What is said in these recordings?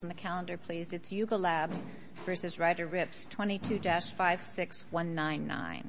It's Yuga Labs v. Ryder Ripps, 22-56199.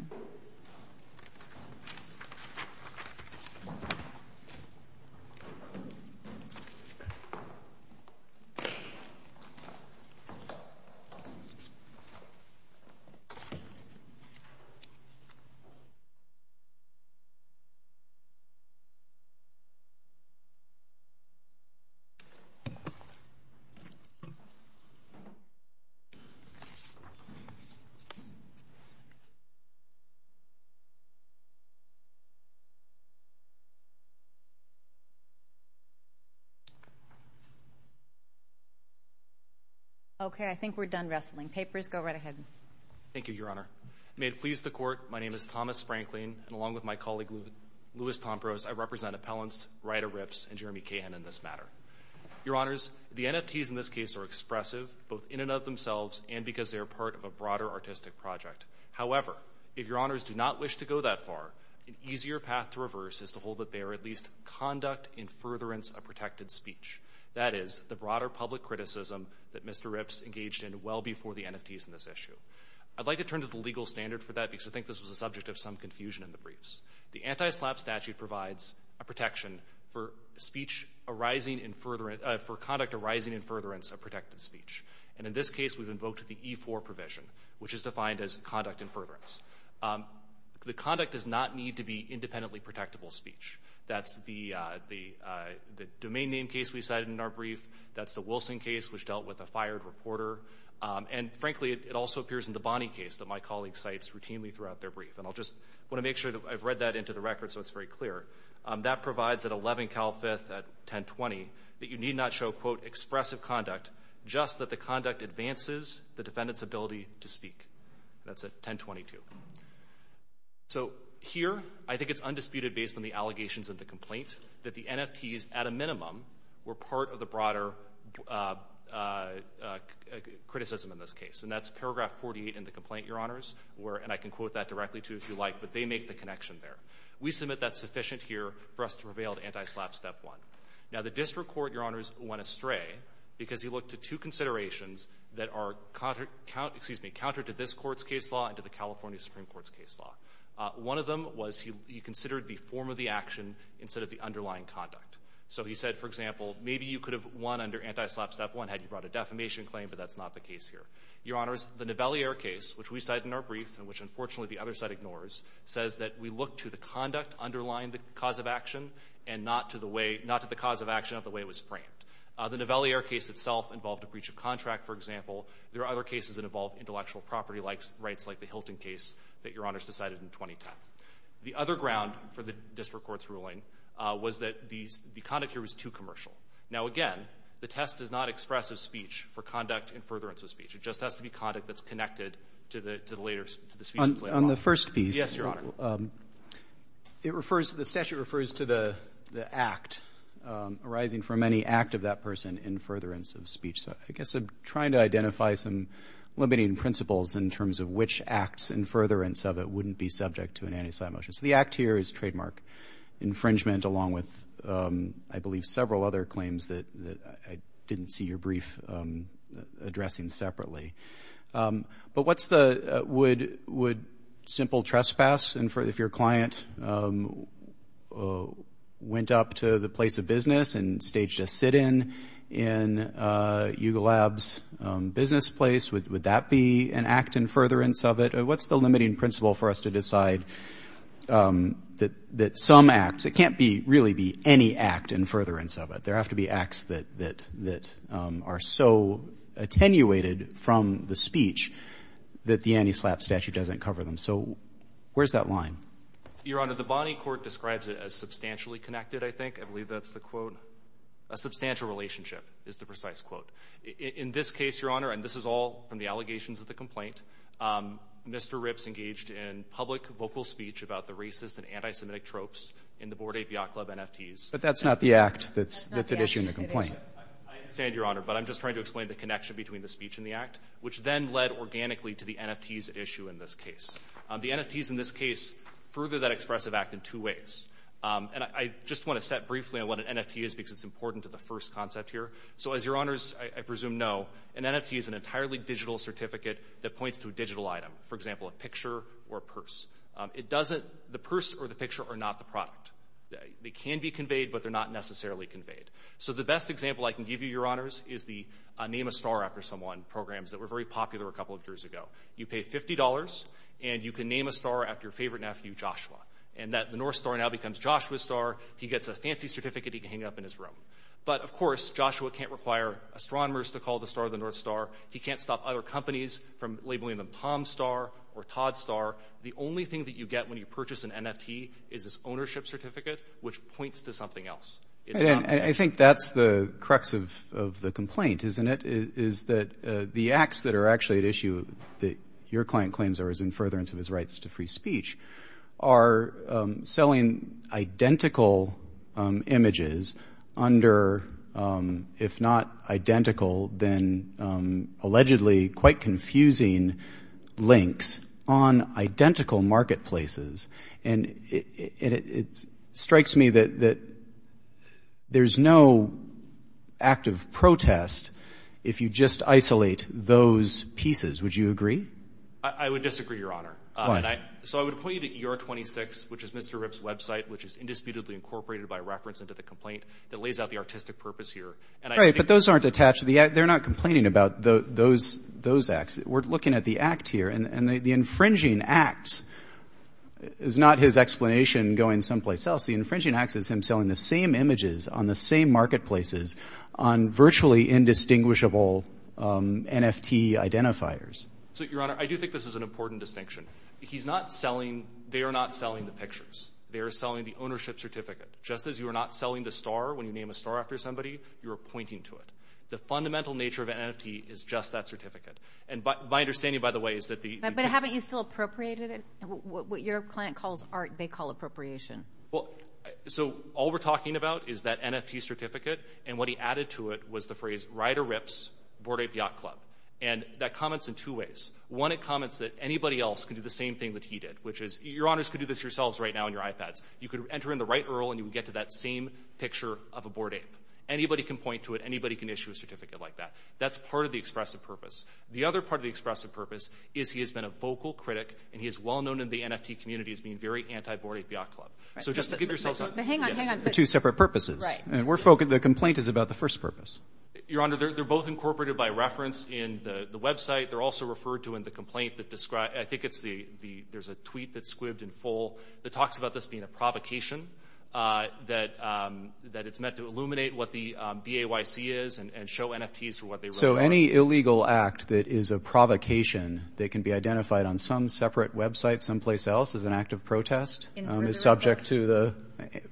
I represent appellants Ryder Ripps and Jeremy Cahan in this matter. Your Honors, the NFTs in this case are expressive, both in and of themselves, and because they are part of a broader artistic project. However, if Your Honors do not wish to go that far, an easier path to reverse is to hold that they are at least conduct in furtherance of protected speech. That is, the broader public criticism that Mr. Ripps engaged in well before the NFTs in this issue. I'd like to turn to the legal standard for that because I think this was the subject of some confusion in the briefs. The anti-SLAPP statute provides a protection for conduct arising in furtherance of protected speech. In this case, we've invoked the E-4 provision, which is defined as conduct in furtherance. The conduct does not need to be independently protectable speech. That's the domain name case we cited in our brief. That's the Wilson case, which dealt with a fired reporter. And frankly, it also appears in the Bonney case that my colleague cites routinely throughout their brief. And I'll just want to make sure that I've read that into the record so it's very clear. That provides at 11 Cal 5th at 1020 that you need not show, quote, expressive conduct, just that the conduct advances the defendant's ability to speak. That's at 1022. So here, I think it's undisputed based on the allegations of the complaint that the NFTs, at a minimum, were part of the broader criticism in this case. And that's paragraph 48 in the complaint, Your Honors, and I can quote that directly to you if you like, but they make the connection there. We submit that's sufficient here for us to prevail to anti-SLAPP Step 1. Now, the district court, Your Honors, went astray because he looked to two considerations that are counter to this Court's case law and to the California Supreme Court's case law. One of them was he considered the form of the action instead of the underlying conduct. So he said, for example, maybe you could have won under anti-SLAPP Step 1 had you brought a defamation claim, but that's not the case here. Your Honors, the Nivelliere case, which we cite in our brief and which, unfortunately, the other side ignores, says that we look to the conduct underlying the cause of action and not to the cause of action of the way it was framed. The Nivelliere case itself involved a breach of contract, for example. There are other cases that involve intellectual property rights, like the Hilton case that Your Honors decided in 2010. The other ground for the district court's ruling was that the conduct here was too commercial. Now, again, the test does not express a speech for conduct in furtherance of speech. It just has to be conduct that's connected to the speech itself. On the first piece, it refers to the statute refers to the act arising from any act of that person in furtherance of speech. So I guess I'm trying to identify some limiting principles in terms of which acts in furtherance of it wouldn't be subject to an anti-SLAPP motion. So the act here is trademark infringement along with, I believe, several other claims that I didn't see your brief addressing separately. But what's the, would simple trespass, if your client went up to the place of business and staged a sit-in in UGLAB's business place, would that be an act in furtherance of it? What's the limiting principle for us to decide that some acts, it can't really be any act in furtherance of it. There have to be acts that are so attenuated from the speech that the anti-SLAPP statute doesn't cover them. So where's that line? Your Honor, the Bonney Court describes it as substantially connected, I think. I believe that's the quote. A substantial relationship is the precise quote. In this case, Your Honor, and this is all from the allegations of the complaint, Mr. Ripps engaged in public vocal speech about the racist and anti-Semitic tropes in the board API club NFTs. But that's not the act that's at issue in the complaint. I understand, Your Honor, but I'm just trying to explain the connection between the speech and the act, which then led organically to the NFTs issue in this case. The NFTs in this case further that expressive act in two ways. And I just want to set briefly on what an NFT is because it's important to the first concept here. So as Your Honors, I presume, know, an NFT is an entirely digital certificate that points to a digital item, for example, a picture or a purse. It doesn't, the purse or the picture are not the product. They can be conveyed, but they're not necessarily conveyed. So the best example I can give you, Your Honors, is the Name a Star After Someone programs that were very popular a couple of years ago. You pay $50 and you can name a star after your favorite nephew, Joshua. And that the North Star now becomes Joshua's star. He gets a fancy certificate he can hang up in his room. But of course, Joshua can't require astronomers to call the star the North Star. He can't stop other companies from labeling them Tom Star or Todd Star. The only thing that you get when you purchase an NFT is this ownership certificate, which points to something else. And I think that's the crux of the complaint, isn't it? Is that the acts that are actually at issue that your client claims are as in furtherance of his rights to free speech are selling identical images under, if not identical, then allegedly quite confusing links on identical marketplaces. And it strikes me that there's no act of protest if you just isolate those pieces. Would you agree? I would disagree, Your Honor. So I would point you to ER26, which is Mr. Ripp's website, which is indisputably incorporated by reference into the complaint that lays out the artistic purpose here. Right, but those aren't attached to the act. They're not complaining about those acts. We're looking at the act here. And the infringing acts is not his explanation going someplace else. The infringing acts is him selling the same images on the same marketplaces on virtually indistinguishable NFT identifiers. So, Your Honor, I do think this is an important distinction. He's not selling, they are not selling the pictures. They are selling the ownership certificate. Just as you are not selling the star when you name a star after somebody, you are pointing to it. The fundamental nature of an NFT is just that certificate. And my understanding, by the way, is that the— But haven't you still appropriated it? What your client calls art, they call appropriation. Well, so all we're talking about is that NFT certificate. And what he added to it was the phrase, Ride or Rips, Board Ape Yacht Club. And that comments in two ways. One, it comments that anybody else can do the same thing that he did, which is, Your Honors could do this yourselves right now on your iPads. You could enter in the right URL and you would get to that same picture of a board ape. Anybody can point to it. Anybody can issue a certificate like that. That's part of the expressive purpose. The other part of the expressive purpose is he has been a vocal critic and he is well-known in the NFT community as being very anti-Board Ape Yacht Club. So just to give yourselves— But hang on, hang on. For two separate purposes. Right. And we're focused—the complaint is about the first purpose. Your Honor, they're both incorporated by reference in the website. They're also referred to in the complaint that describes— I think it's the—there's a tweet that's squibbed in full that talks about this being a provocation, that it's meant to illuminate what the BAYC is and show NFTs for what they— So any illegal act that is a provocation that can be identified on some separate website someplace else as an act of protest is subject to the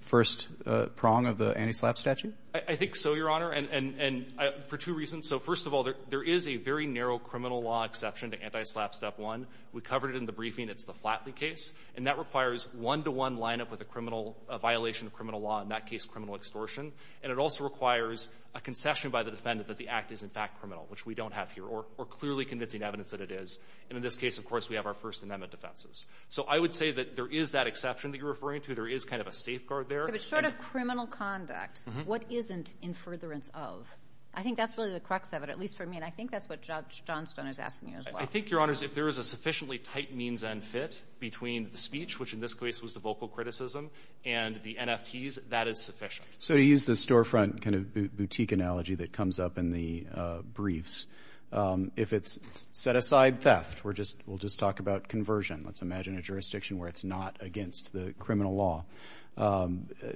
first prong of the anti-SLAPP statute? I think so, Your Honor. And for two reasons. So first of all, there is a very narrow criminal law exception to anti-SLAPP Step 1. We covered it in the briefing. It's the Flatley case. And that requires one-to-one lineup with a criminal— a violation of criminal law, in that case, criminal extortion. And it also requires a concession by the defendant that the act is, in fact, criminal, which we don't have here. Or clearly convincing evidence that it is. And in this case, of course, we have our First Amendment defenses. So I would say that there is that exception that you're referring to. There is kind of a safeguard there. If it's short of criminal conduct, what isn't in furtherance of? I think that's really the crux of it, at least for me. And I think that's what Judge Johnstone is asking you as well. I think, Your Honors, if there is a sufficiently tight means-end fit between the speech, which in this case was the vocal criticism, and the NFTs, that is sufficient. So to use the storefront kind of boutique analogy that comes up in the briefs, if it's set-aside theft, we'll just talk about conversion. Let's imagine a jurisdiction where it's not against the criminal law.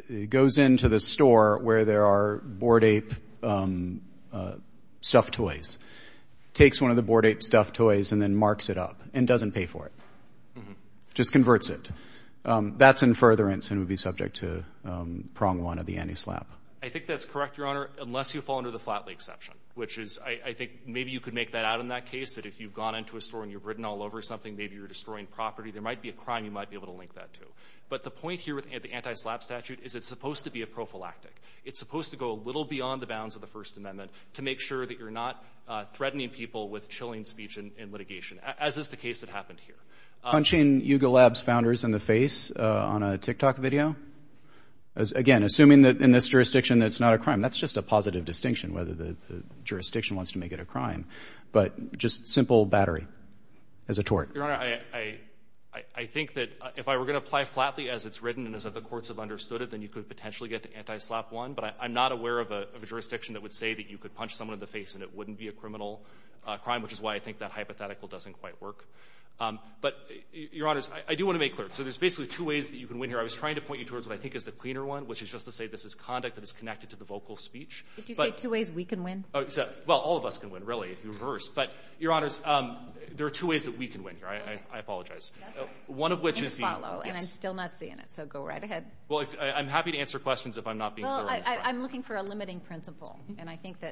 It goes into the store where there are board ape stuffed toys, takes one of the board ape stuffed toys, and then marks it up and doesn't pay for it. Just converts it. That's in furtherance and would be subject to prong one of the anti-SLAPP. I think that's correct, Your Honor, unless you fall under the Flat Lake exception, which is, I think maybe you could make that out in that case, that if you've gone into a store and you've ridden all over something, maybe you're destroying property, there might be a crime you might be able to link that to. But the point here with the anti-SLAPP statute is it's supposed to be a prophylactic. It's supposed to go a little beyond the bounds of the First Amendment to make sure that you're not threatening people with chilling speech and litigation, as is the case that happened here. Punching Yugo Labs founders in the face on a TikTok video? Again, assuming that in this jurisdiction, it's not a crime. That's just a positive distinction, whether the jurisdiction wants to make it a crime. But just simple battery as a tort. Your Honor, I think that if I were going to apply Flatly as it's written and as if the courts have understood it, then you could potentially get the anti-SLAPP one. But I'm not aware of a jurisdiction that would say that you could punch someone in the face and it wouldn't be a criminal crime, which is why I think that hypothetical doesn't quite work. But, Your Honors, I do want to make clear. So there's basically two ways that you can win here. I was trying to point you towards what I think is the cleaner one, which is just to say this is conduct that is connected to the vocal speech. Did you say two ways we can win? Well, all of us can win, really, if you reverse. But, Your Honors, there are two ways that we can win here. I apologize. One of which is the... You can follow, and I'm still not seeing it. So go right ahead. Well, I'm happy to answer questions if I'm not being clear on this. Well, I'm looking for a limiting principle. And I think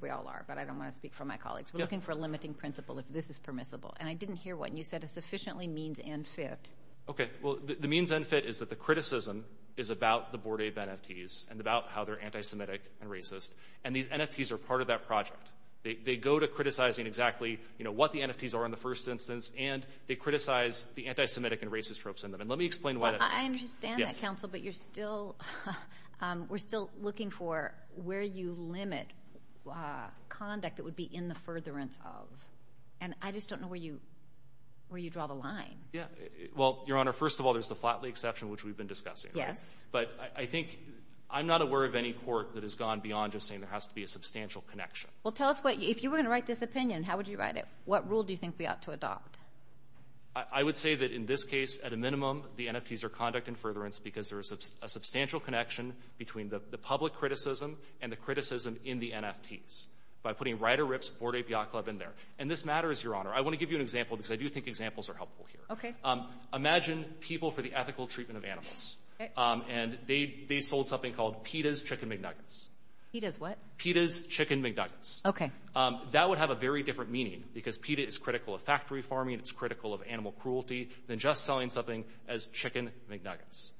we all are, but I don't want to speak for my colleagues. We're looking for a limiting principle if this is permissible. And I didn't hear what you said. It sufficiently means and fit. Okay. Well, the means and fit is that the criticism is about the Board of NFTs and about how they're anti-Semitic and racist. And these NFTs are part of that project. They go to criticizing exactly what the NFTs are in the first instance, and they criticize the anti-Semitic and racist tropes in them. And let me explain why that... I understand that, counsel, but you're still... We're still looking for where you limit conduct that would be in the furtherance of. And I just don't know where you draw the line. Yeah. Well, Your Honor, first of all, there's the Flatley exception, which we've been discussing. Yes. But I think... I'm not aware of any court that has gone beyond just saying there has to be a substantial connection. Well, tell us what... If you were going to write this opinion, how would you write it? What rule do you think we ought to adopt? I would say that in this case, at a minimum, the NFTs are conduct in furtherance because there is a substantial connection between the public criticism and the criticism in the NFTs by putting Rider-Ripps, Board Ape, Yacht Club in there. This matters, Your Honor. I want to give you an example because I do think examples are helpful here. Okay. Imagine people for the ethical treatment of animals. And they sold something called PETA's Chicken McNuggets. PETA's what? PETA's Chicken McNuggets. Okay. That would have a very different meaning because PETA is critical of factory farming. It's critical of animal cruelty than just selling something as Chicken McNuggets.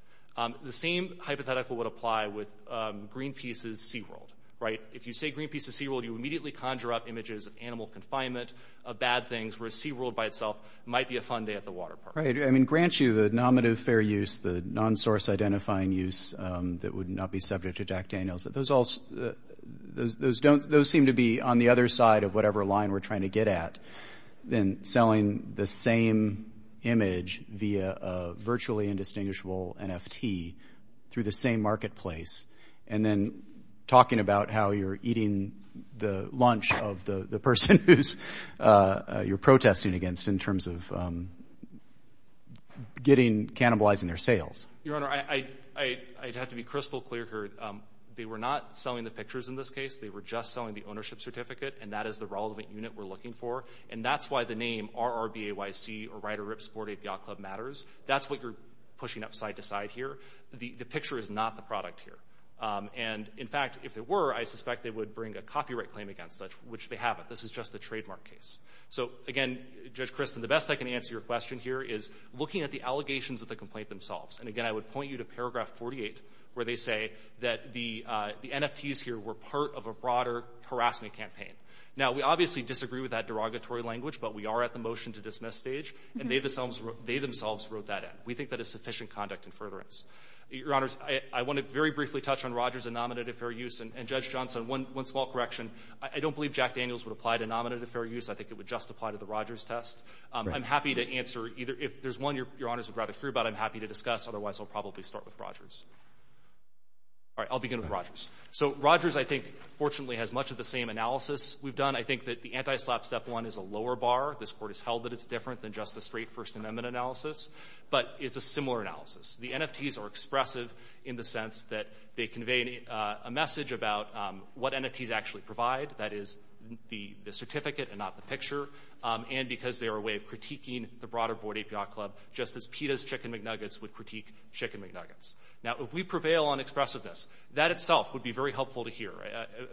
The same hypothetical would apply with Greenpeace's SeaWorld, right? If you say Greenpeace's SeaWorld, you immediately conjure up images of animal confinement, of bad things, where SeaWorld by itself might be a fun day at the water park. Right. I mean, grant you the nominative fair use, the non-source identifying use that would not be subject to Jack Daniels. Those seem to be on the other side of whatever line we're trying to get at than selling the same image via a virtually indistinguishable NFT through the same marketplace and then talking about how you're eating the lunch of the person who's you're protesting against in terms of getting, cannibalizing their sales. Your Honor, I'd have to be crystal clear here. They were not selling the pictures in this case. They were just selling the ownership certificate and that is the relevant unit we're looking for. And that's why the name RRBAYC or Rider Rip Sporting Yacht Club matters. That's what you're pushing up side to side here. The picture is not the product here. And in fact, if it were, I suspect they would bring a copyright claim against that, which they haven't. This is just the trademark case. So again, Judge Kristen, the best I can answer your question here is looking at the allegations of the complaint themselves. And again, I would point you to paragraph 48, where they say that the NFTs here were part of a broader harassment campaign. Now we obviously disagree with that derogatory language, but we are at the motion to dismiss stage and they themselves wrote that in. We think that is sufficient conduct and furtherance. Your honors, I want to very briefly touch on Rogers and nominative fair use. And Judge Johnson, one small correction. I don't believe Jack Daniels would apply to nominative fair use. I think it would just apply to the Rogers test. I'm happy to answer either. If there's one your honors would rather hear about, I'm happy to discuss. Otherwise, I'll probably start with Rogers. All right, I'll begin with Rogers. So Rogers, I think, fortunately has much of the same analysis we've done. I think that the anti-slap step one is a lower bar. This court has held that it's different than just the straight First Amendment analysis, but it's a similar analysis. The NFTs are expressive in the sense that they convey a message about what NFTs actually provide. That is the certificate and not the picture. And because they are a way of critiquing the broader board APR club, just as PETA's Chicken McNuggets would critique Chicken McNuggets. Now, if we prevail on expressiveness, that itself would be very helpful to hear.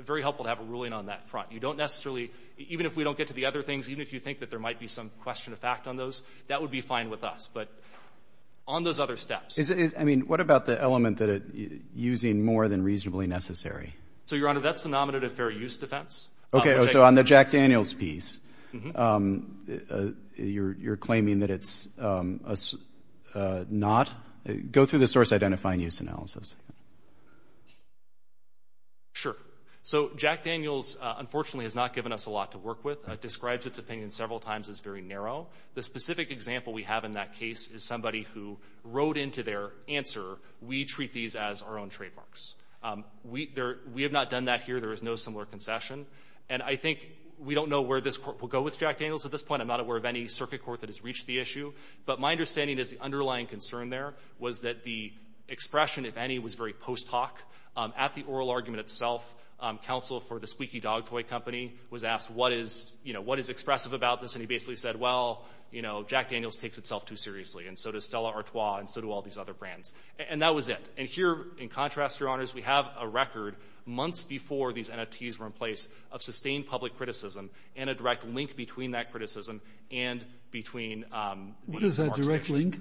Very helpful to have a ruling on that front. You don't necessarily, even if we don't get to the other things, even if you think that there might be some question of fact on those, that would be fine with us. But on those other steps. I mean, what about the element that it's using more than reasonably necessary? So, Your Honor, that's the nominative fair use defense. Okay, so on the Jack Daniels piece, you're claiming that it's not? Go through the source identifying use analysis. Sure. So Jack Daniels, unfortunately, has not given us a lot to work with. It describes its opinion several times as very narrow. The specific example we have in that case is somebody who wrote into their answer, we treat these as our own trademarks. We have not done that here. There is no similar concession. And I think we don't know where this court will go with Jack Daniels at this point. I'm not aware of any circuit court that has reached the issue. But my understanding is the underlying concern there was that the expression, if any, was very post hoc. At the oral argument itself, counsel for the Squeaky Dog Toy Company was asked, what is expressive about this? He basically said, well, Jack Daniels takes itself too seriously, and so does Stella Artois, and so do all these other brands. And that was it. And here, in contrast, your honors, we have a record months before these NFTs were in place of sustained public criticism and a direct link between that criticism and between... What is that direct link?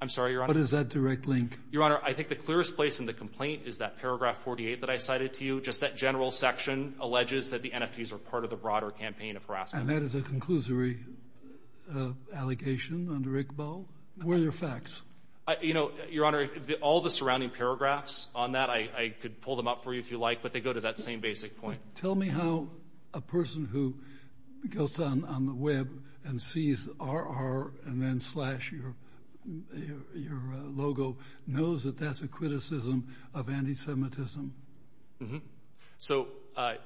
I'm sorry, your honor. What is that direct link? Your honor, I think the clearest place in the complaint is that paragraph 48 that I cited to you. Just that general section alleges that the NFTs are part of the broader campaign of harassment. And that is a conclusory allegation under ICBO. Where are your facts? You know, your honor, all the surrounding paragraphs on that, I could pull them up for you if you like, but they go to that same basic point. Tell me how a person who goes on the web and sees RR and then slash your logo knows that that's a criticism of anti-Semitism. So,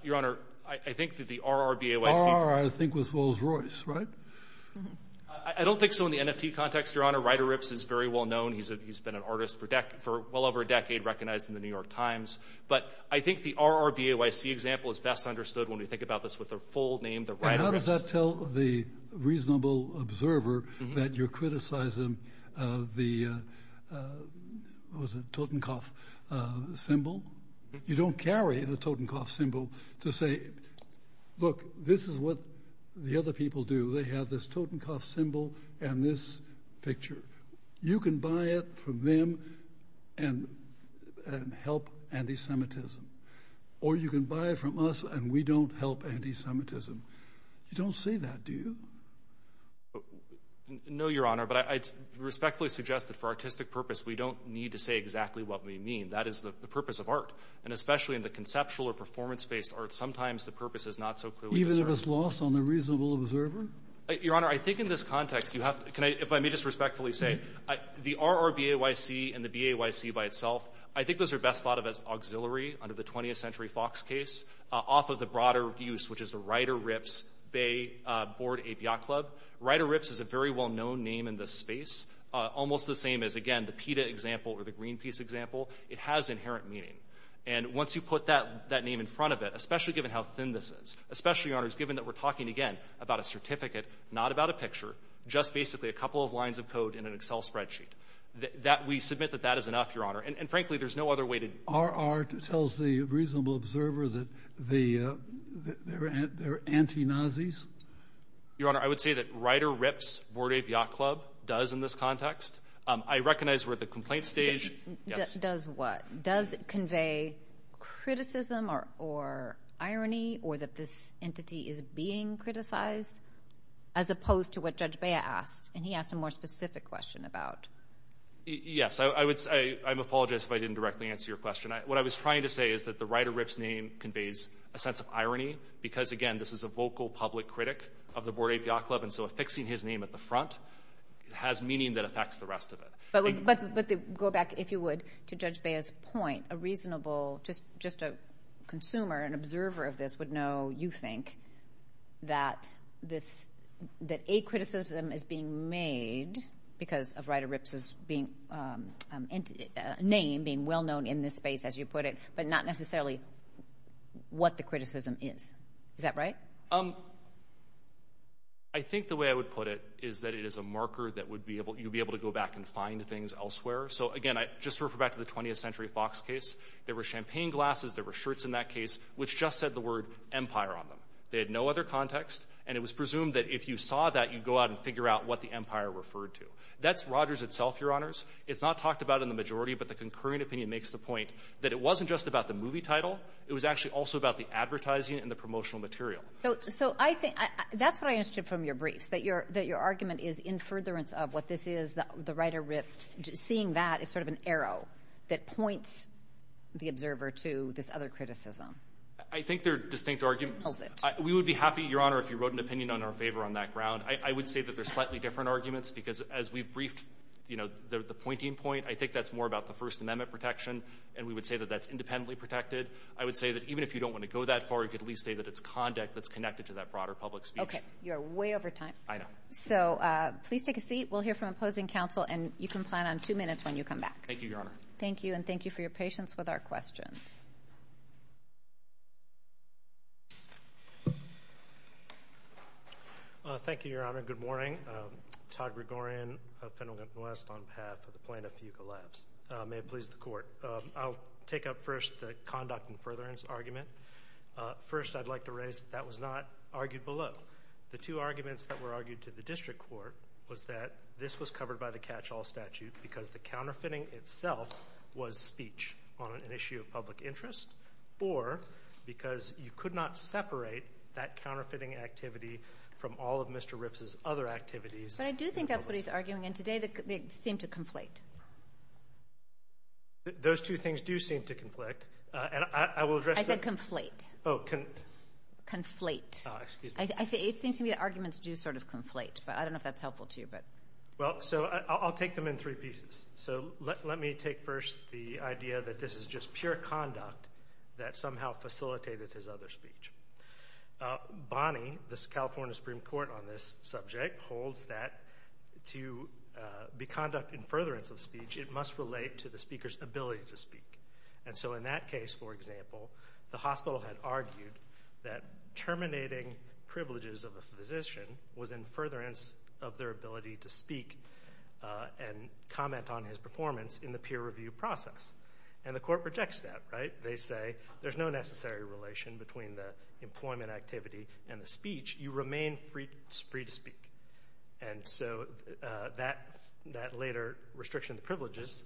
your honor, I think that the RRBAYC... I think was Rolls-Royce, right? I don't think so in the NFT context, your honor. Ryder Ripps is very well known. He's been an artist for well over a decade, recognized in the New York Times. But I think the RRBAYC example is best understood when we think about this with a full name, the Ryder Ripps. How does that tell the reasonable observer that you're criticizing the... What was it? Totenkopf symbol. You don't carry the Totenkopf symbol to say, look, this is what the other people do. They have this Totenkopf symbol and this picture. You can buy it from them and help anti-Semitism. Or you can buy it from us and we don't help anti-Semitism. You don't say that, do you? No, your honor. But I respectfully suggest that for artistic purpose, we don't need to say exactly what we mean. That is the purpose of art. And especially in the conceptual or performance-based art, sometimes the purpose is not so clear. Even if it's lost on the reasonable observer? Your honor, I think in this context, you have to... If I may just respectfully say, the RRBAYC and the BAYC by itself, I think those are best thought of as auxiliary under the 20th century Fox case off of the broader use, which is the Ryder Ripps Bay Board, a yacht club. Ryder Ripps is a very well-known name in the space, almost the same as, again, the PETA example or the Greenpeace example. It has inherent meaning. And once you put that name in front of it, especially given how thin this is, especially, your honor, given that we're talking, again, about a certificate, not about a picture, just basically a couple of lines of code in an Excel spreadsheet, we submit that that is enough, your honor. And frankly, there's no other way to... Our art tells the reasonable observer that they're anti-Nazis? Your honor, I would say that Ryder Ripps Board of Yacht Club does in this context. I recognize we're at the complaint stage. Does what? Does it convey criticism or irony or that this entity is being criticized as opposed to what Judge Bea asked? And he asked a more specific question about. Yes, I would say, I apologize if I didn't directly answer your question. What I was trying to say is that the Ryder Ripps name conveys a sense of irony, because again, this is a vocal public critic of the Board of Yacht Club. And so affixing his name at the front has meaning that affects the rest of it. But go back, if you would, to Judge Bea's point, a reasonable, just a consumer, an observer of this would know, you think, that a criticism is being made because of Ryder Ripps' name being well-known in this space, as you put it, but not necessarily what the criticism is. Is that right? I think the way I would put it is that it is a marker that you'd be able to go back and find things elsewhere. So again, just to refer back to the 20th Century Fox case, there were champagne glasses, there were shirts in that case, which just said the word empire on them. They had no other context. And it was presumed that if you saw that, you'd go out and figure out what the empire referred to. That's Rogers itself, Your Honors. It's not talked about in the majority, but the concurring opinion makes the point that it wasn't just about the movie title. It was actually also about the advertising and the promotional material. So that's what I understood from your briefs, that your argument is in furtherance of what this is, the Ryder Ripps, seeing that as sort of an arrow that points the observer to this other criticism. I think they're distinct arguments. We would be happy, Your Honor, if you wrote an opinion on our favor on that ground. I would say that they're slightly different arguments because as we've briefed the pointing point, I think that's more about the First Amendment protection. And we would say that that's independently protected. I would say that even if you don't want to go that far, you could at least say that it's conduct that's connected to that broader public speech. Okay, you're way over time. I know. So please take a seat. We'll hear from opposing counsel and you can plan on two minutes when you come back. Thank you, Your Honor. Thank you. And thank you for your patience with our questions. Thank you, Your Honor. Good morning. Todd Gregorian of Pendleton West on behalf of the plaintiff, Euka Labs. May it please the court. I'll take up first the conduct and furtherance argument. First, I'd like to raise that was not argued below. The two arguments that were argued to the district court was that this was covered by the catch-all statute because the counterfeiting itself was speech on an issue of public interest, or because you could not separate that counterfeiting activity from all of Mr. Ripps's other activities. But I do think that's what he's arguing. And today they seem to conflate. Those two things do seem to conflict. And I will address that. I said conflate. Oh, conflate. Oh, excuse me. It seems to me the arguments do sort of conflate, but I don't know if that's helpful to you. Well, so I'll take them in three pieces. So let me take first the idea that this is just pure conduct that somehow facilitated his other speech. Bonnie, the California Supreme Court on this subject, holds that to be conduct in furtherance of speech, it must relate to the speaker's ability to speak. And so in that case, for example, the hospital had argued that terminating privileges of a physician was in furtherance of their ability to speak and comment on his performance in the peer review process. And the court rejects that, right? They say there's no necessary relation between the employment activity and the speech. You remain free to speak. And so that later restriction of privileges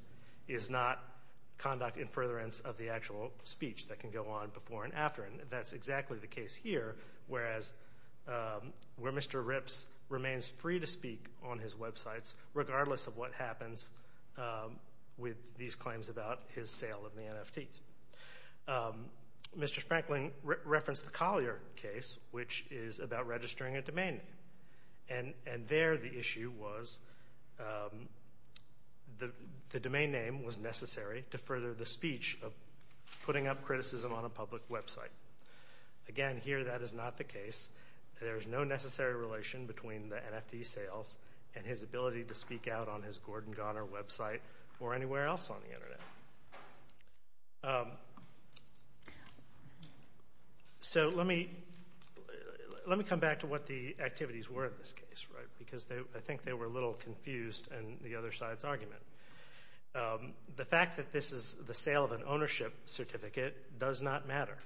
is not conduct in furtherance of the actual speech that can go on before and after. And that's exactly the case here. Whereas where Mr. Ripps remains free to speak on his websites, regardless of what happens with these claims about his sale of the NFTs. Mr. Sprankling referenced the Collier case, which is about registering a domain name. And there the issue was the domain name was necessary to further the speech of putting up criticism on a public website. Again, here that is not the case. There is no necessary relation between the NFT sales and his ability to speak out on his Gordon Garner website or anywhere else on the internet. So let me come back to what the activities were in this case, right? Because I think they were a little confused in the other side's argument. The fact that this is the sale of an ownership certificate does not matter.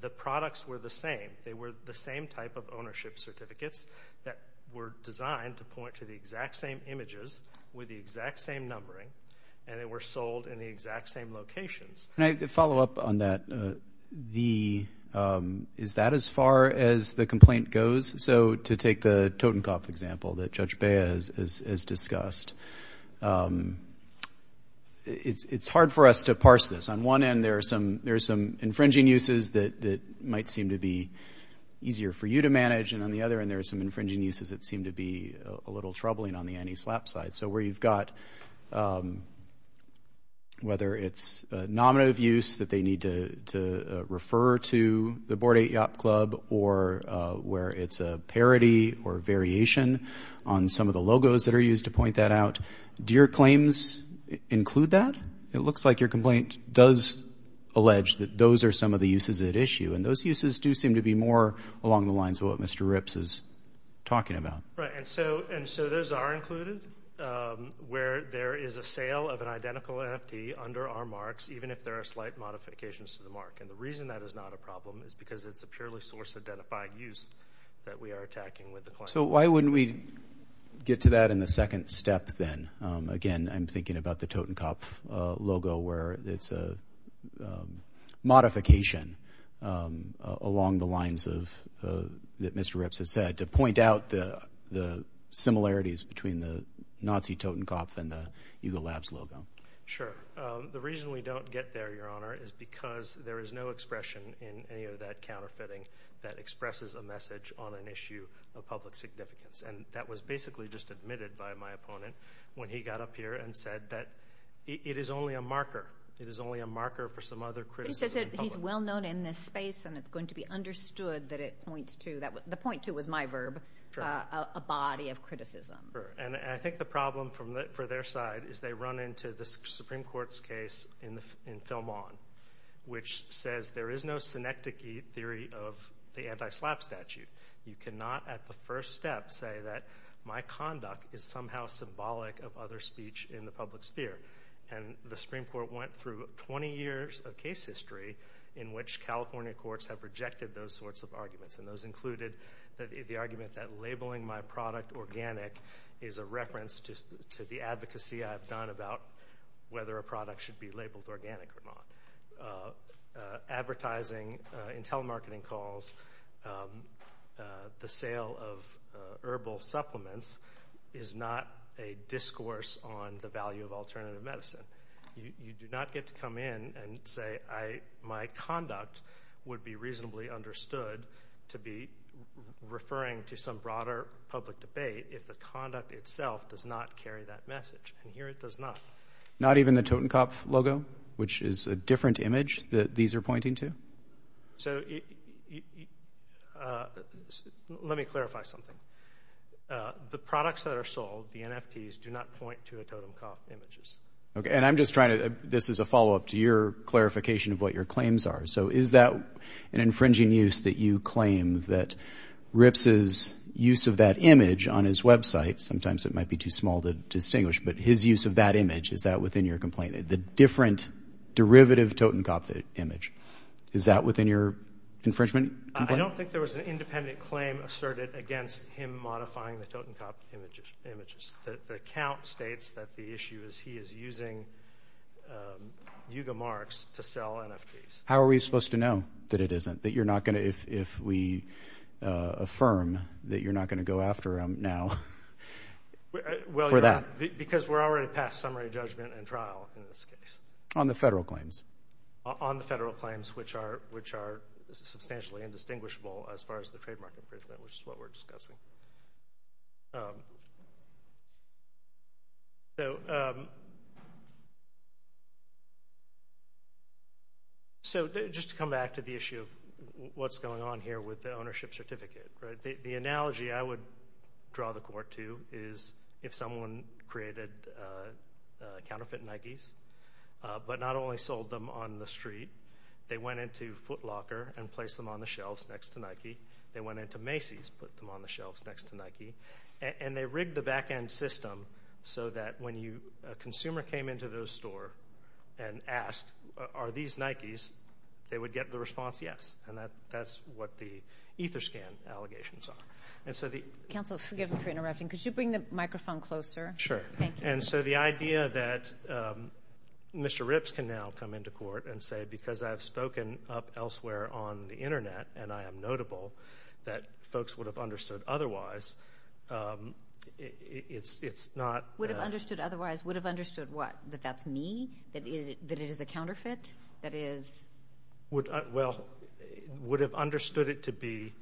The products were the same. They were the same type of ownership certificates that were designed to point to the exact same images with the exact same numbering. And they were sold in the exact same locations. Can I follow up on that? Is that as far as the complaint goes? So to take the Totenkopf example that Judge Baez has discussed. It's hard for us to parse this. On one end, there are some infringing uses that might seem to be easier for you to manage. And on the other end, there are some infringing uses that seem to be a little troubling on the anti-slap side. So where you've got, whether it's a nominative use that they need to refer to the Board 8 Yacht Club or where it's a parody or variation on some of the logos that are used to point that out. Do your claims include that? It looks like your complaint does allege that those are some of the uses at issue. And those uses do seem to be more along the lines of what Mr. Ripps is talking about. Right, and so those are included where there is a sale of an identical NFT under our marks, even if there are slight modifications to the mark. And the reason that is not a problem is because it's a purely source-identified use that we are attacking with the claim. So why wouldn't we get to that in the second step then? Again, I'm thinking about the Totenkopf logo where it's a modification along the lines that Mr. Ripps has said to point out the similarities between the Nazi Totenkopf and the Eagle Labs logo. Sure. The reason we don't get there, Your Honor, is because there is no expression in any of that counterfeiting that expresses a message on an issue of public significance. And that was basically just admitted by my opponent when he got up here and said that it is only a marker. It is only a marker for some other criticism. He's well known in this space and it's going to be understood that it points to, the point to was my verb, a body of criticism. And I think the problem for their side is they run into the Supreme Court's case in Film On, which says there is no synecdoche theory of the anti-slap statute. You cannot at the first step say that my conduct is somehow symbolic of other speech in the public sphere. And the Supreme Court went through 20 years of case history in which California courts have rejected those sorts of arguments. And those included the argument that labeling my product organic is a reference to the advocacy I've done about whether a product should be labeled organic or not. Advertising in telemarketing calls, the sale of herbal supplements is not a discourse on the value of alternative medicine. You do not get to come in and say, my conduct would be reasonably understood to be referring to some broader public debate if the conduct itself does not carry that message. And here it does not. Not even the Totenkopf logo, which is a different image that these are pointing to? So let me clarify something. The products that are sold, the NFTs, do not point to Totenkopf images. Okay, and I'm just trying to, this is a follow-up to your clarification of what your claims are. So is that an infringing use that you claim that Rips's use of that image on his website, sometimes it might be too small to distinguish, but his use of that image, is that within your complaint? The different derivative Totenkopf image, is that within your infringement? I don't think there was an independent claim asserted against him modifying the Totenkopf images. The account states that the issue is he is using Yuga Marks to sell NFTs. How are we supposed to know that it isn't, that you're not gonna, if we affirm that you're not gonna go after him now for that? Because we're already past summary judgment and trial in this case. On the federal claims? On the federal claims, which are substantially indistinguishable as far as the trademark infringement, which is what we're discussing. So just to come back to the issue of what's going on here with the ownership certificate, right? The analogy I would draw the court to is if someone created counterfeit Nikes, but not only sold them on the street, they went into Foot Locker and placed them on the shelves next to Nike. They went into Macy's, put them on the shelves next to Nike. And they rigged the backend system so that when a consumer came into the store and asked, are these Nikes? They would get the response, yes. And that's what the EtherScan allegations are. And so the- Counsel, forgive me for interrupting. Could you bring the microphone closer? Sure. And so the idea that Mr. Ripps can now come into court and say, because I've spoken up elsewhere on the internet and I am notable, that folks would have understood otherwise, it's not- Would have understood otherwise? Would have understood what? That that's me? That it is a counterfeit? That is- Well, would have understood it to be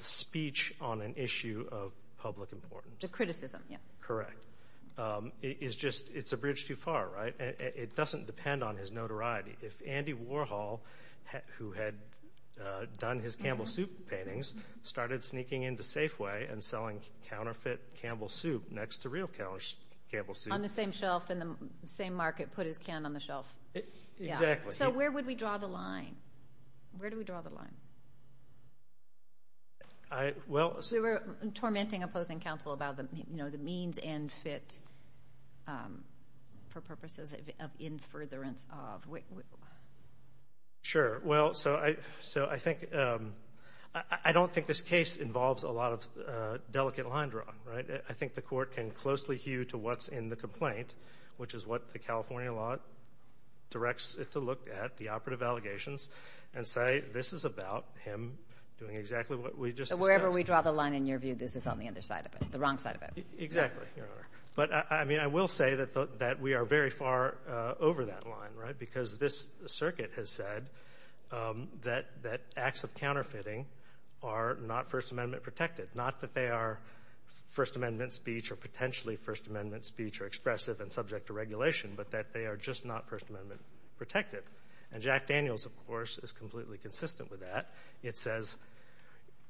speech on an issue of public importance. The criticism, yeah. Correct. It's a bridge too far, right? It doesn't depend on his notoriety. If Andy Warhol, who had done his Campbell Soup paintings, started sneaking into Safeway and selling counterfeit Campbell Soup next to real Campbell Soup- On the same shelf in the same market, put his can on the shelf. Exactly. So where would we draw the line? Where do we draw the line? Well- We were tormenting opposing counsel about the means and fit for purposes of in furtherance of- Sure. Well, so I think- I don't think this case involves a lot of delicate line drawing, right? I think the court can closely hew to what's in the complaint, which is what the California law directs it to look at, the operative allegations, and say, this is about him doing exactly what we just discussed. So wherever we draw the line in your view, Exactly, Your Honor. But I mean, I will say that we are very far over that line, right? Because this circuit has said that acts of counterfeiting are not First Amendment protected. Not that they are First Amendment speech or potentially First Amendment speech or expressive and subject to regulation, but that they are just not First Amendment protected. And Jack Daniels, of course, is completely consistent with that. It says,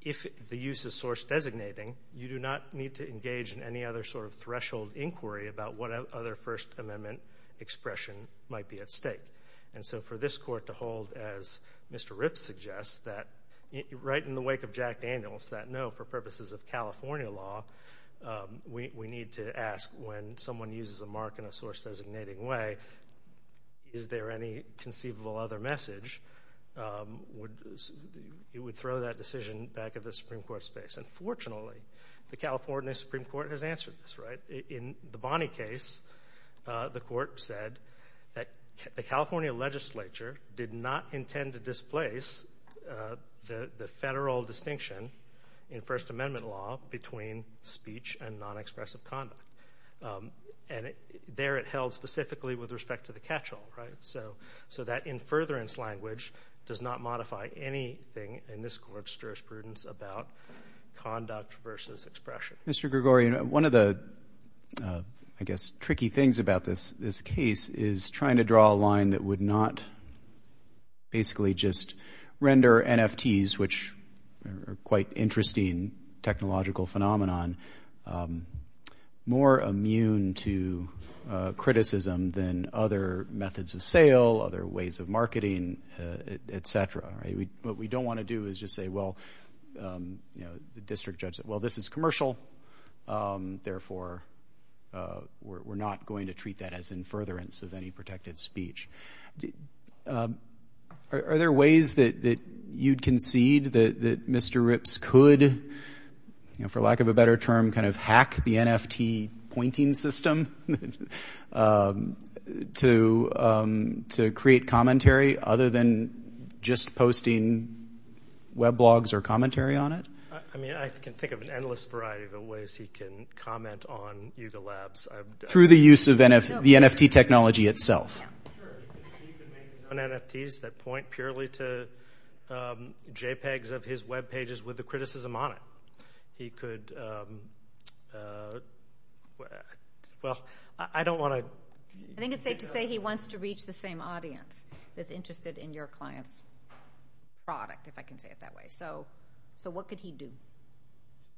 if the use is source designating, you do not need to engage in any other sort of threshold inquiry about what other First Amendment expression might be at stake. And so for this court to hold, as Mr. Ripps suggests, that right in the wake of Jack Daniels, that no, for purposes of California law, we need to ask when someone uses a mark in a source designating way, is there any conceivable other message? It would throw that decision back at the Supreme Court's face. And fortunately, the California Supreme Court has answered this, right? In the Bonney case, the court said that the California legislature did not intend to displace the federal distinction in First Amendment law between speech and non-expressive conduct. And there it held specifically with respect to the catch-all, right? So that in furtherance language does not modify anything in this court's jurisprudence about conduct versus expression. Mr. Gregorio, one of the, I guess, tricky things about this case is trying to draw a line that would not basically just render NFTs, which are quite interesting technological phenomenon, more immune to criticism than other methods of sale, other ways of marketing, et cetera, right? What we don't want to do is just say, well, you know, the district judge said, well, this is commercial, therefore, we're not going to treat that as in furtherance of any protected speech. Are there ways that you'd concede that Mr. Ripps could, you know, for lack of a better term, kind of hack the NFT pointing system to create commentary other than just posting web blogs or commentary on it? I mean, I can think of an endless variety of ways he can comment on Yuga Labs. Through the use of the NFT technology itself. Sure, he could make non-NFTs that point purely to JPEGs of his web pages with the criticism on it. He could, well, I don't want to... I think it's safe to say he wants to reach the same audience that's interested in your client's product, if I can say it that way. So what could he do?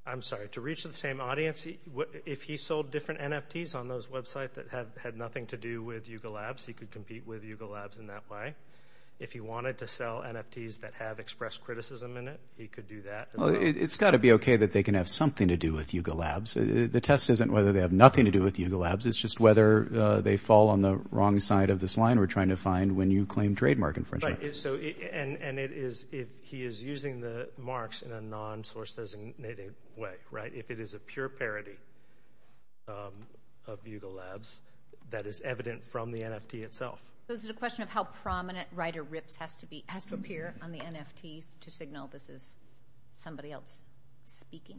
I'm sorry, to reach the same audience? If he sold different NFTs on those websites that had nothing to do with Yuga Labs, he could compete with Yuga Labs in that way. If he wanted to sell NFTs that have expressed criticism in it, he could do that. It's got to be okay that they can have something to do with Yuga Labs. The test isn't whether they have nothing to do with Yuga Labs, it's just whether they fall on the wrong side of this line we're trying to find when you claim trademark infringement. And he is using the marks in a non-source designated way, right? If it is a pure parody of Yuga Labs, that is evident from the NFT itself. So is it a question of how prominent Ryder Rips has to appear on the NFT to signal this is somebody else speaking?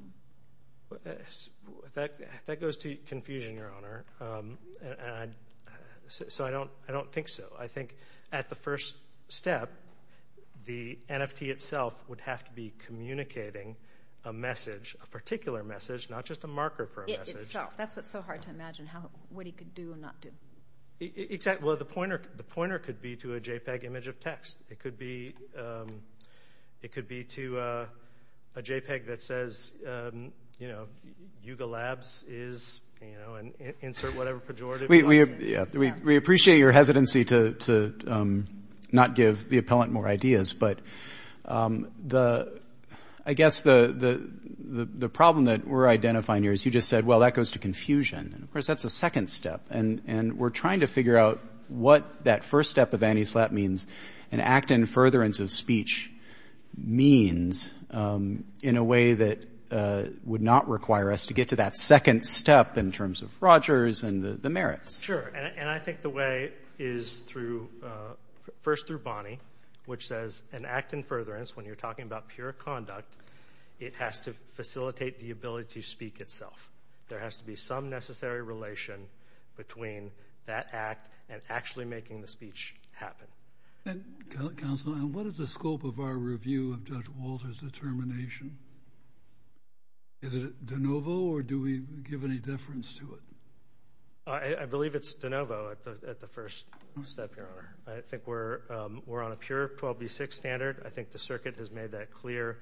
That goes to confusion, Your Honor. So I don't think so. I think at the first step, the NFT itself would have to be communicating a message, a particular message, not just a marker for a message. That's what's so hard to imagine, what he could do and not do. Exactly. Well, the pointer could be to a JPEG image of text. It could be to a JPEG that says, you know, Yuga Labs is, you know, and insert whatever pejorative. We appreciate your hesitancy to not give the appellant more ideas. But I guess the problem that we're identifying here is you just said, well, that goes to confusion. And of course, that's a second step. And we're trying to figure out what that first step of anti-slap means and act in furtherance of speech means in a way that would not require us to get to that second step in terms of Rogers and the merits. Sure. And I think the way is through, first through Bonnie, which says an act in furtherance, when you're talking about pure conduct, it has to facilitate the ability to speak itself. There has to be some necessary relation between that act and actually making the speech happen. Counsel, what is the scope of our review of Judge Walter's determination? Is it de novo or do we give any deference to it? I believe it's de novo at the first step, Your Honor. I think we're on a pure 12B6 standard. I think the circuit has made that clear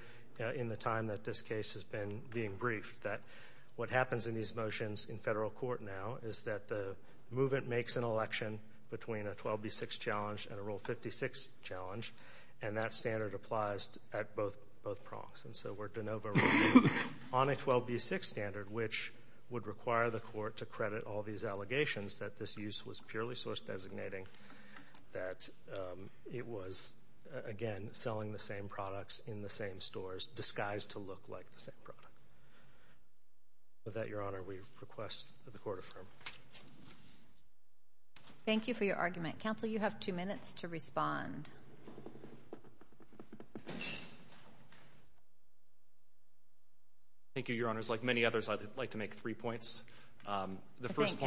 in the time that this case has been being briefed, that what happens in these motions in federal court now is that the movement makes an election between a 12B6 challenge and a Rule 56 challenge. And that standard applies at both prongs. And so we're de novo on a 12B6 standard, which would require the court to credit all these allegations that this use was purely source designating, that it was, again, selling the same products in the same stores, disguised to look like the same product. With that, Your Honor, we request that the court affirm. Thank you for your argument. Counsel, you have two minutes to respond. Thank you, Your Honors. Like many others, I'd like to make three points. The first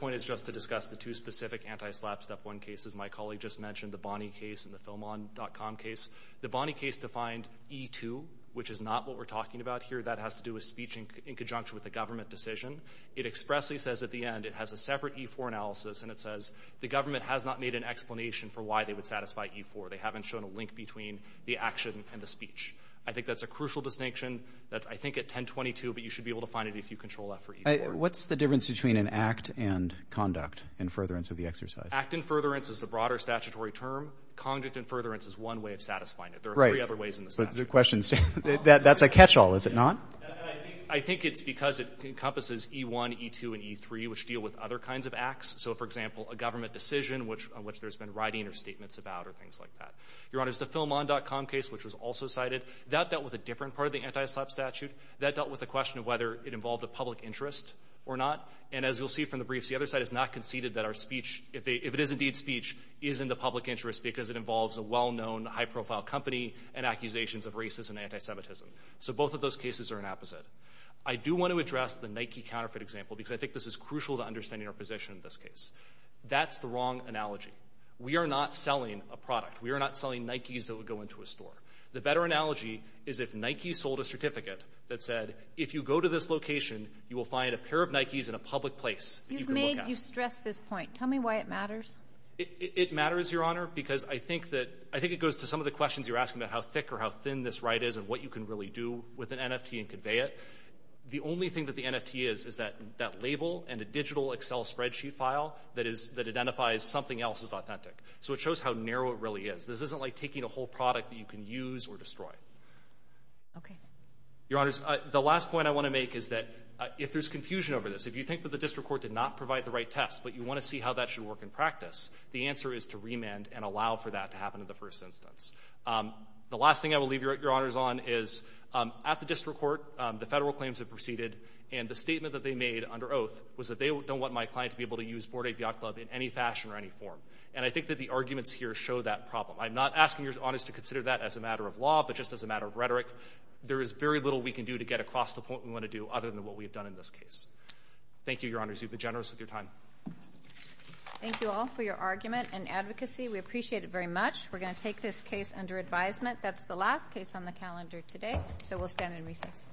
point is just to discuss the two specific anti-SLAPP Step 1 cases. My colleague just mentioned the Bonney case and the FilmOn.com case. The Bonney case defined E2, which is not what we're talking about here. That has to do with speech in conjunction with a government decision. It expressly says at the end it has a separate E4 analysis, and it says the government has not made an explanation for why they would satisfy E4. They haven't shown a link between the action and the speech. I think that's a crucial distinction. That's, I think, at 1022, but you should be able to find it if you control that for E4. What's the difference between an act and conduct and furtherance of the exercise? Act and furtherance is the broader statutory term. Conduct and furtherance is one way of satisfying it. There are three other ways in the statute. But the question is, that's a catch-all, is it not? And I think it's because it encompasses E1, E2, and E3, which deal with other kinds of acts. So, for example, a government decision, on which there's been writing or statements about or things like that. Your Honor, the FilmOn.com case, which was also cited, that dealt with a different part of the antislap statute. That dealt with the question of whether it involved a public interest or not. And as you'll see from the briefs, the other side has not conceded that our speech, if it is indeed speech, is in the public interest because it involves a well-known high-profile company and accusations of racism and antisemitism. So both of those cases are an opposite. I do want to address the Nike counterfeit example because I think this is crucial to understanding our position in this case. That's the wrong analogy. We are not selling a product. We are not selling Nikes that would go into a store. The better analogy is if Nike sold a certificate that said, if you go to this location, you will find a pair of Nikes in a public place. You've made, you've stressed this point. Tell me why it matters. It matters, Your Honor, because I think that, I think it goes to some of the questions you're asking about how thick or how thin this right is and what you can really do with an NFT and convey it. The only thing that the NFT is, is that label and a digital Excel spreadsheet file that identifies something else is authentic. So it shows how narrow it really is. This isn't like taking a whole product that you can use or destroy. Okay. Your Honors, the last point I want to make is that if there's confusion over this, if you think that the district court did not provide the right test, but you want to see how that should work in practice, the answer is to remand and allow for that to happen in the first instance. The last thing I will leave Your Honors on is, at the district court, the federal claims have proceeded and the statement that they made under oath was that they don't want my client to be able to use Forte Viot Club in any fashion or any form. And I think that the arguments here show that problem. I'm not asking Your Honors to consider that as a matter of law, but just as a matter of rhetoric. There is very little we can do to get across the point we want to do other than what we've done in this case. Thank you, Your Honors. You've been generous with your time. Thank you all for your argument and advocacy. We appreciate it very much. We're going to take this case under advisement. That's the last case on the calendar today, so we'll stand in recess.